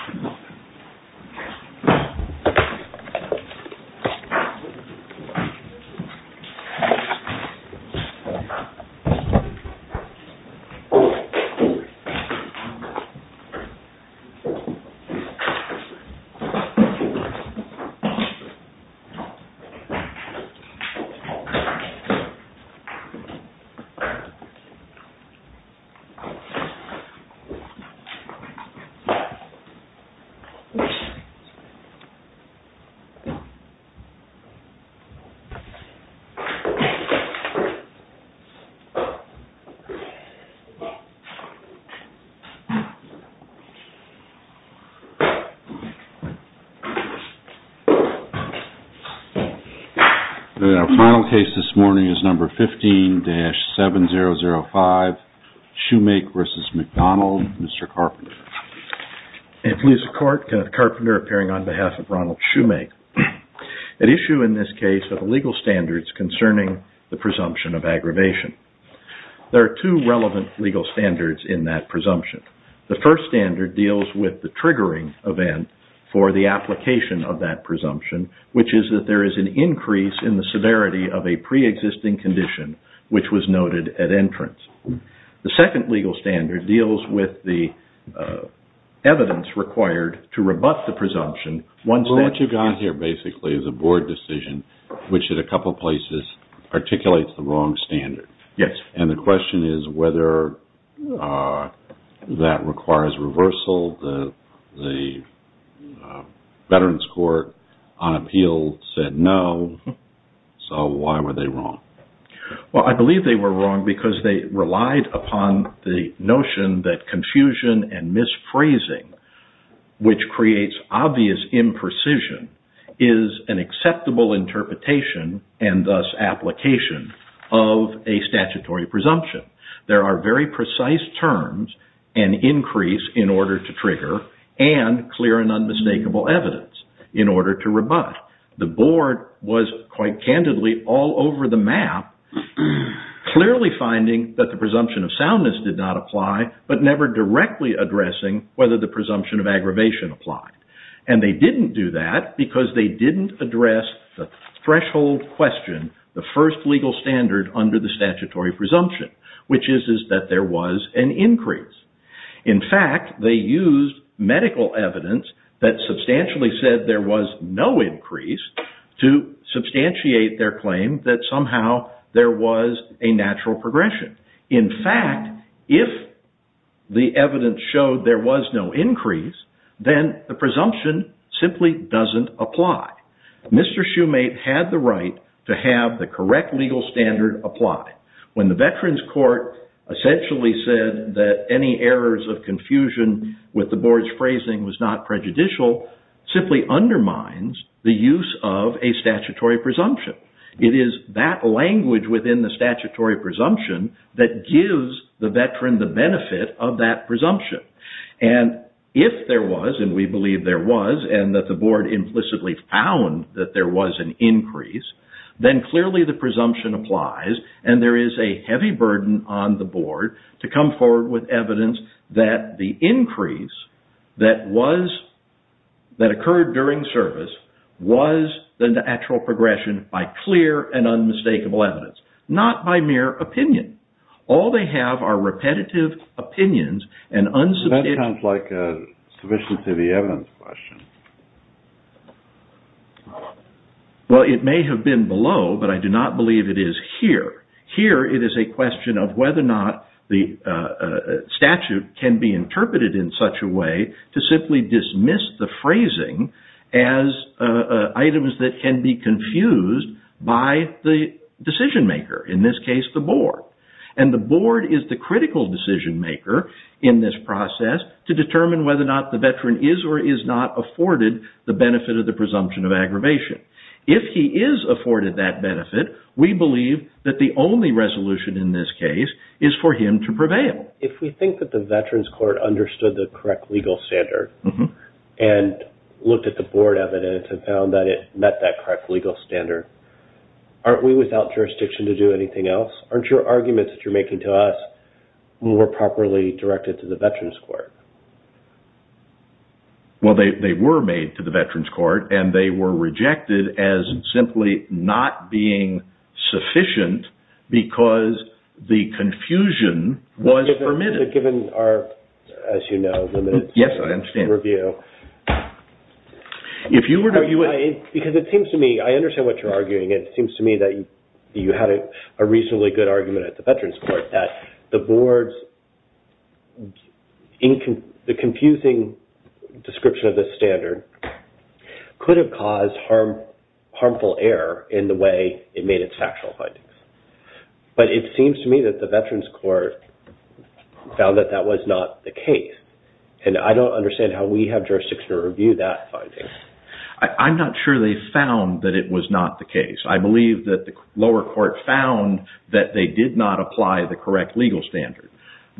Whoopee! Our final case this morning is number 15-7005, Shoemake v. McDonald, Mr. Carpenter. Police of Court, Kenneth Carpenter appearing on behalf of Ronald Shoemake. At issue in this case are the legal standards concerning the presumption of aggravation. There are two relevant legal standards in that presumption. The first standard deals with the triggering event for the application of that presumption, which is that there is an increase in the severity of a pre-existing condition which was noted at entrance. The second legal standard deals with the evidence required to rebut the presumption once that is a board decision, which in a couple of places articulates the wrong standard. The question is whether that requires reversal. The Veterans Court on appeal said no, so why were they wrong? I believe they were wrong because they relied upon the notion that confusion and misphrasing, which creates obvious imprecision, is an acceptable interpretation and thus application of a statutory presumption. There are very precise terms, an increase in order to trigger, and clear and unmistakable evidence in order to rebut. The board was quite candidly all over the map, clearly finding that the presumption of soundness did not apply, but never directly addressing whether the presumption of aggravation applied. And they didn't do that because they didn't address the threshold question, the first legal standard under the statutory presumption, which is that there was an increase. In fact, they used medical evidence that substantially said there was no increase to substantiate their claim that somehow there was a natural progression. In fact, if the evidence showed there was no increase, then the presumption simply doesn't apply. Mr. Shoemate had the right to have the correct legal standard apply. When the Veterans Court essentially said that any errors of confusion with the board's phrasing was not prejudicial, simply undermines the use of a statutory presumption. It is that language within the statutory presumption that gives the Veteran the benefit of that presumption. And if there was, and we believe there was, and that the board implicitly found that there was an increase, then clearly the presumption applies, and there is a heavy burden on the board to come forward with evidence that the increase that occurred during service was less than the actual progression by clear and unmistakable evidence, not by mere opinion. All they have are repetitive opinions and unsubstantiated... That sounds like a sufficiency of the evidence question. Well, it may have been below, but I do not believe it is here. Here it is a question of whether or not the statute can be interpreted in such a way to simply dismiss the phrasing as items that can be confused by the decision-maker, in this case the board. And the board is the critical decision-maker in this process to determine whether or not the Veteran is or is not afforded the benefit of the presumption of aggravation. If he is afforded that benefit, we believe that the only resolution in this case is for him to prevail. If we think that the Veterans Court understood the correct legal standard and looked at the board evidence and found that it met that correct legal standard, aren't we without jurisdiction to do anything else? Aren't your arguments that you're making to us more properly directed to the Veterans Court? Well, they were made to the Veterans Court, and they were rejected as simply not being sufficient because the confusion was permitted. Given our, as you know, limited review. Yes, I understand. If you were to view it... Because it seems to me, I understand what you're arguing. It seems to me that you had a reasonably good argument at the Veterans Court that the board's, the confusing description of this standard could have caused harmful error in the way it made its factual findings. But it seems to me that the Veterans Court found that that was not the case. And I don't understand how we have jurisdiction to review that finding. I'm not sure they found that it was not the case. I believe that the lower court found that they did not apply the correct legal standard.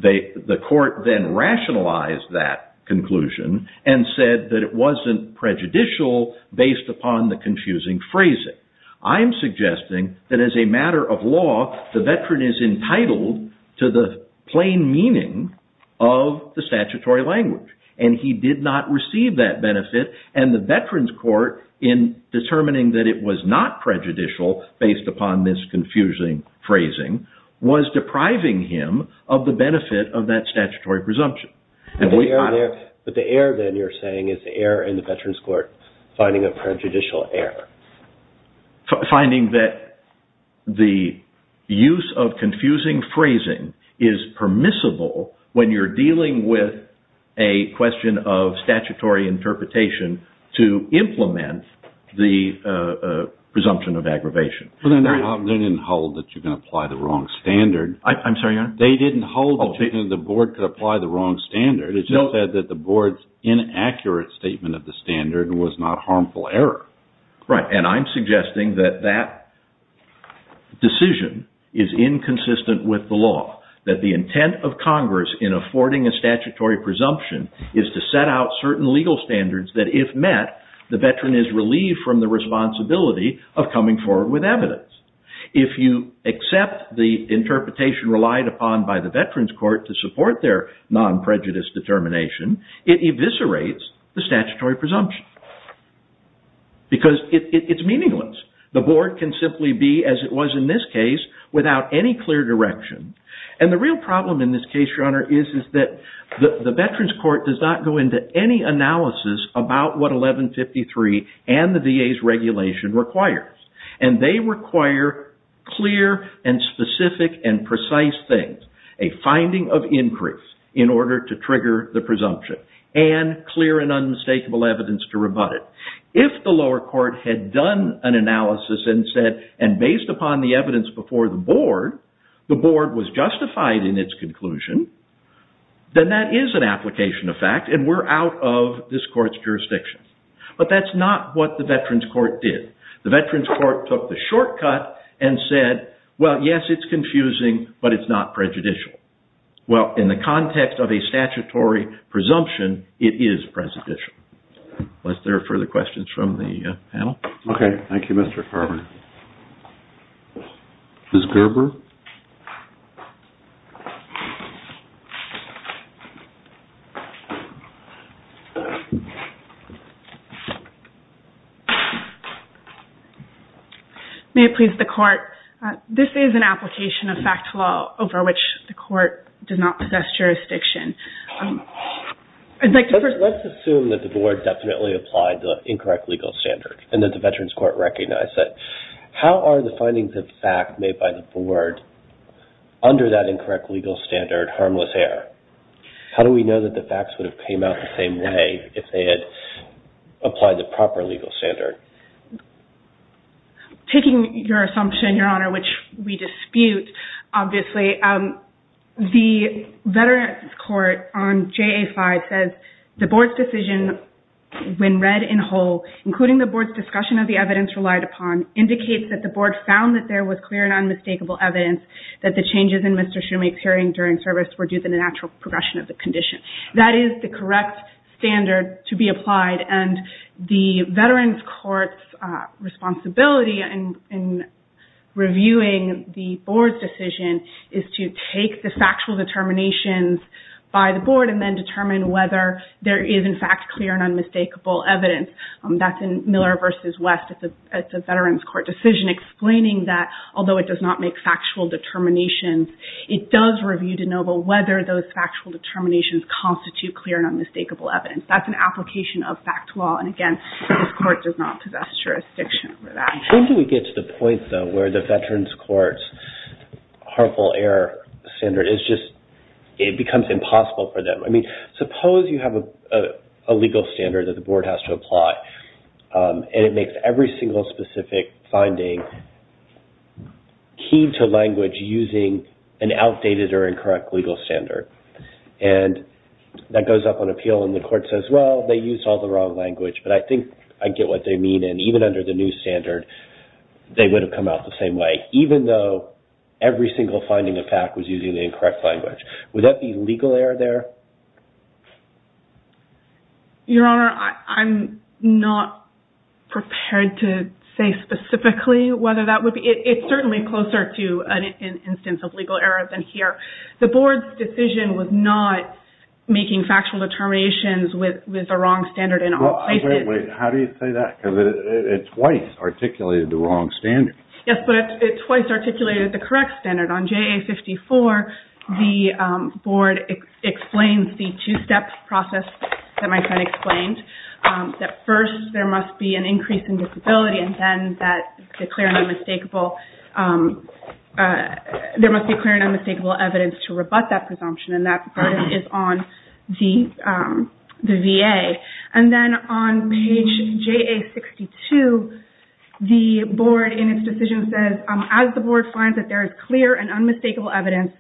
The court then rationalized that conclusion and said that it wasn't prejudicial based upon the confusing phrasing. I'm suggesting that as a matter of law, the Veteran is entitled to the plain meaning of the statutory language. And he did not receive that benefit. And the Veterans Court, in determining that it was not prejudicial based upon this confusing phrasing, was depriving him of the benefit of that statutory presumption. But the error then, you're saying, is the error in the Veterans Court finding a prejudicial error. Finding that the use of confusing phrasing is permissible when you're dealing with a question of statutory interpretation to implement the presumption of aggravation. They didn't hold that you can apply the wrong standard. I'm sorry, Your Honor? They didn't hold that the board could apply the wrong standard. It just said that the board's inaccurate statement of the standard was not harmful error. Right. And I'm suggesting that that decision is inconsistent with the law. That the intent of Congress in affording a statutory presumption is to set out certain legal standards that, if met, the Veteran is relieved from the responsibility of coming forward with evidence. If you accept the interpretation relied upon by the Veterans Court to support their non-prejudice determination, it eviscerates the statutory presumption. Because it's meaningless. The board can simply be, as it was in this case, without any clear direction. And the real problem in this case, Your Honor, is that the Veterans Court does not go into any analysis about what 1153 and the VA's regulation requires. And they require clear and specific and precise things. A finding of increase in order to trigger the presumption. And clear and unmistakable evidence to rebut it. If the lower court had done an analysis and said, and based upon the evidence before the board, the board was justified in its conclusion, then that is an application of fact and we're out of this court's jurisdiction. But that's not what the Veterans Court did. The Veterans Court took the shortcut and said, well, yes, it's confusing, but it's not prejudicial. Well, in the context of a statutory presumption, it is prejudicial. Unless there are further questions from the panel? Okay. Thank you, Mr. Carver. Ms. Gerber? May it please the court. This is an application of fact law over which the court does not possess jurisdiction. Let's assume that the board definitely applied the incorrect legal standard and that the Veterans Court recognized it. How are the findings of fact made by the board under that incorrect legal standard harmless there? How do we know that the facts would have came out the same way if they had applied the proper legal standard? Taking your assumption, Your Honor, which we dispute, obviously, the Veterans Court on JA-5 says, the board's decision, when read in whole, including the board's discussion of the evidence relied upon, indicates that the board found that there was clear and unmistakable evidence that the changes in Mr. Shumake's hearing during service were due to the natural progression of the condition. That is the correct standard to be applied and the Veterans Court's responsibility in reviewing the board's decision is to take the factual determinations by the board and then determine whether there is, in fact, clear and unmistakable evidence. That's in Miller v. West. It's a Veterans Court decision explaining that, although it does not make factual determinations, it does review to know whether those factual determinations constitute clear and unmistakable evidence. That's an application of fact law, and again, this court does not possess jurisdiction over that. When do we get to the point, though, where the Veterans Court's harmful error standard is just, it becomes impossible for them? I mean, suppose you have a legal standard that the board has to apply and it makes every single specific finding key to language using an outdated or incorrect legal standard and that goes up on appeal and the court says, well, they used all the wrong language, but I think I get what they mean, and even under the new standard, they would have come out the same way, even though every single finding of fact was using the incorrect language. Would that be legal error there? Your Honor, I'm not prepared to say specifically whether that would be, it's certainly closer to an instance of legal error than here. The board's decision was not making factual determinations with the wrong standard in all places. Wait, how do you say that? Because it twice articulated the wrong standard. Yes, but it twice articulated the correct standard. On JA-54, the board explains the two-step process that my friend explained, that first there must be an increase in disability and then that the clear and unmistakable, there must be clear and unmistakable evidence to rebut that presumption and that is on the VA. And then on page JA-62, the board in its decision says, as the board finds that there is clear and unmistakable evidence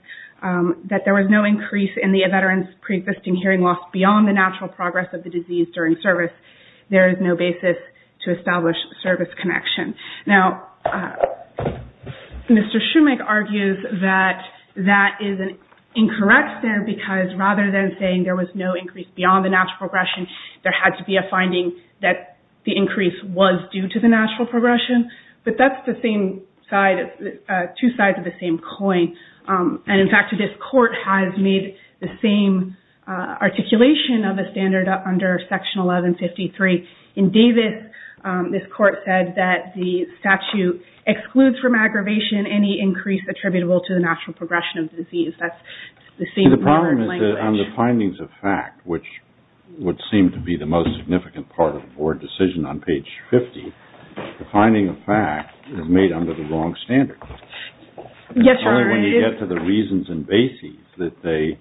that there was no increase in the veteran's pre-existing hearing loss beyond the natural progress of the disease during service, there is no basis to establish service connection. Now, Mr. Schumach argues that that is incorrect there because rather than saying there was no increase beyond the natural progression, there had to be a finding that the increase was due to the natural progression. But that's the same side, two sides of the same coin. And in fact, this court has made the same articulation of the standard under Section 1153. In Davis, this court said that the statute excludes from aggravation any increase attributable to the natural progression of the disease. That's the same language. The problem is that on the findings of fact, which would seem to be the most significant part of the board decision on page 50, the finding of fact is made under the wrong standard. Yes, Your Honor. It's only when you get to the reasons and basis that they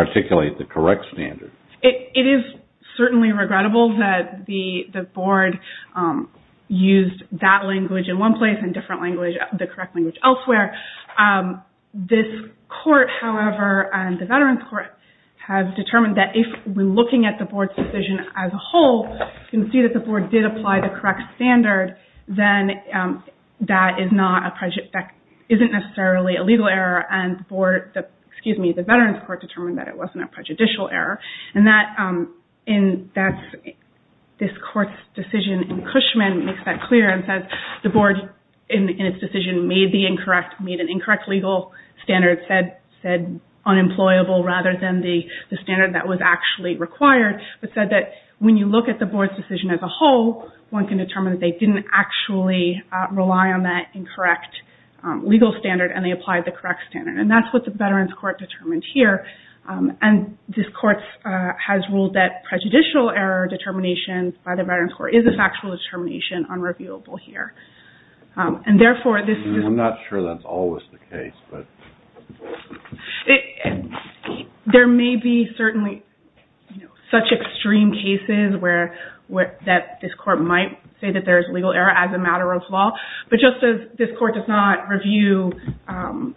articulate the correct standard. It is certainly regrettable that the board used that language in one place and different language, the correct language, elsewhere. This court, however, and the Veterans Court have determined that if we're looking at the board's decision as a whole, you can see that the board did apply the correct standard, then that isn't necessarily a legal error and the board, excuse me, the Veterans Court determined that it wasn't a prejudicial error. This court's decision in Cushman makes that clear and says the board, in its decision, made an incorrect legal standard, said unemployable rather than the standard that was actually required, but said that when you look at the board's decision as a whole, one can determine that they didn't actually rely on that incorrect legal standard and they applied the correct standard. That's what the Veterans Court determined here and this court has ruled that prejudicial error determination by the Veterans Court is a factual determination unreviewable here. Therefore, this is... I'm not sure that's always the case, but... There may be certainly such extreme cases that this court might say that there's legal error as a matter of law, but just as this court does not review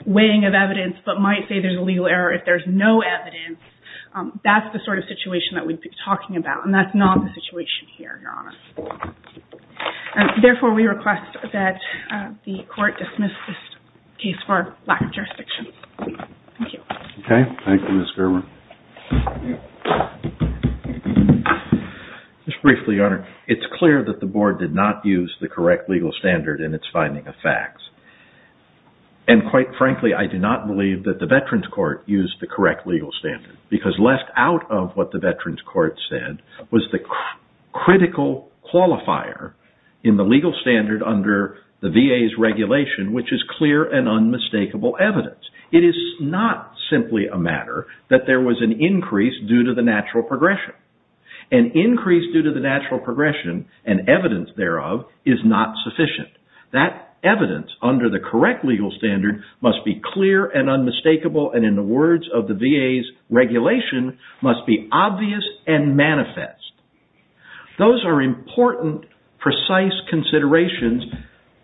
weighing of evidence but might say there's a legal error if there's no evidence, that's the sort of situation that we'd be talking about and that's not the situation here, Your Honor. Therefore, we request that the court dismiss this case for lack of jurisdiction. Thank you. Okay. Thank you, Ms. Gerber. Just briefly, Your Honor. It's clear that the board did not use the correct legal standard in its finding of facts and quite frankly, I do not believe that the Veterans Court used the correct legal standard because left out of what the Veterans Court said was the critical qualifier in the legal standard under the VA's regulation, which is clear and unmistakable evidence. It is not simply a matter that there was an increase due to the natural progression. An increase due to the natural progression and evidence thereof is not sufficient. That evidence under the correct legal standard must be clear and unmistakable and in the words of the VA's regulation, must be obvious and manifest. Those are important, precise considerations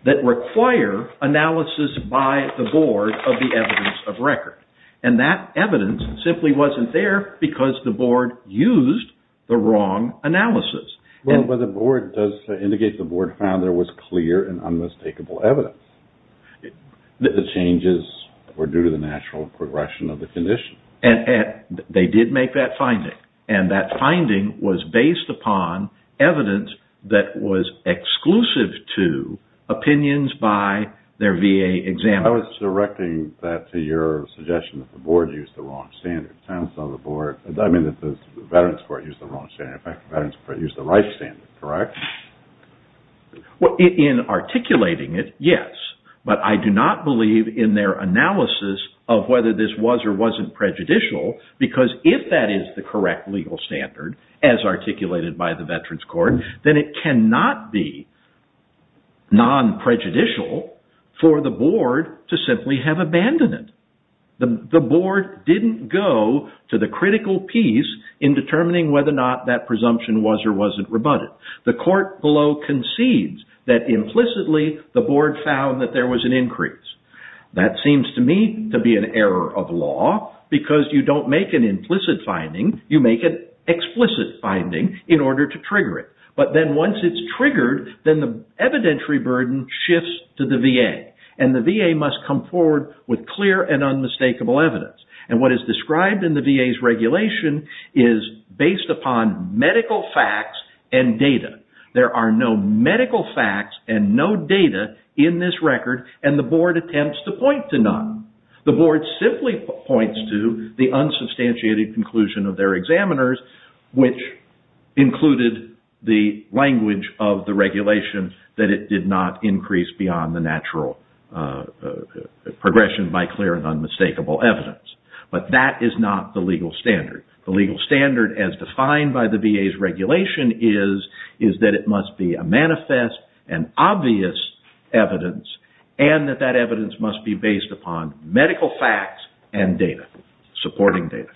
that require analysis by the board of the evidence of record and that evidence simply wasn't there because the board used the wrong analysis. Well, but the board does indicate the board found there was clear and unmistakable evidence. The changes were due to the natural progression of the condition. They did make that finding and that finding was based upon evidence that was exclusive to opinions by their VA examiners. I was directing that to your suggestion that the board used the wrong standard. It sounds to me that the Veterans Court used the wrong standard. In fact, the Veterans Court used the right standard, correct? Well, in articulating it, yes, but I do not believe in their analysis of whether this was or wasn't prejudicial because if that is the correct legal standard as articulated by the Veterans Court, then it cannot be non-prejudicial for the board to simply have abandoned it. The board didn't go to the critical piece in determining whether or not that presumption was or wasn't rebutted. The court below concedes that implicitly the board found that there was an increase. That seems to me to be an error of law because you don't make an implicit finding. You make an explicit finding in order to trigger it, but then once it's triggered, then the evidentiary burden shifts to the VA and the VA must come forward with clear and unmistakable evidence and what is described in the VA's regulation is based upon medical facts and data. There are no medical facts and no data in this record and the board attempts to point to none. The board simply points to the unsubstantiated conclusion of their examiners which included the language of the regulation that it did not increase beyond the natural progression by clear and unmistakable evidence, but that is not the legal standard. The legal standard as defined by the VA's regulation is that it must be a manifest and obvious evidence and that that evidence must be based upon medical facts and data, supporting data.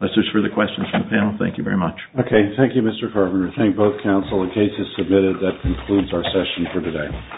That's it for the questions from the panel. Thank you very much. Okay. Thank you, Mr. Carpenter. Thank both counsel. The case is submitted. That concludes our session for today.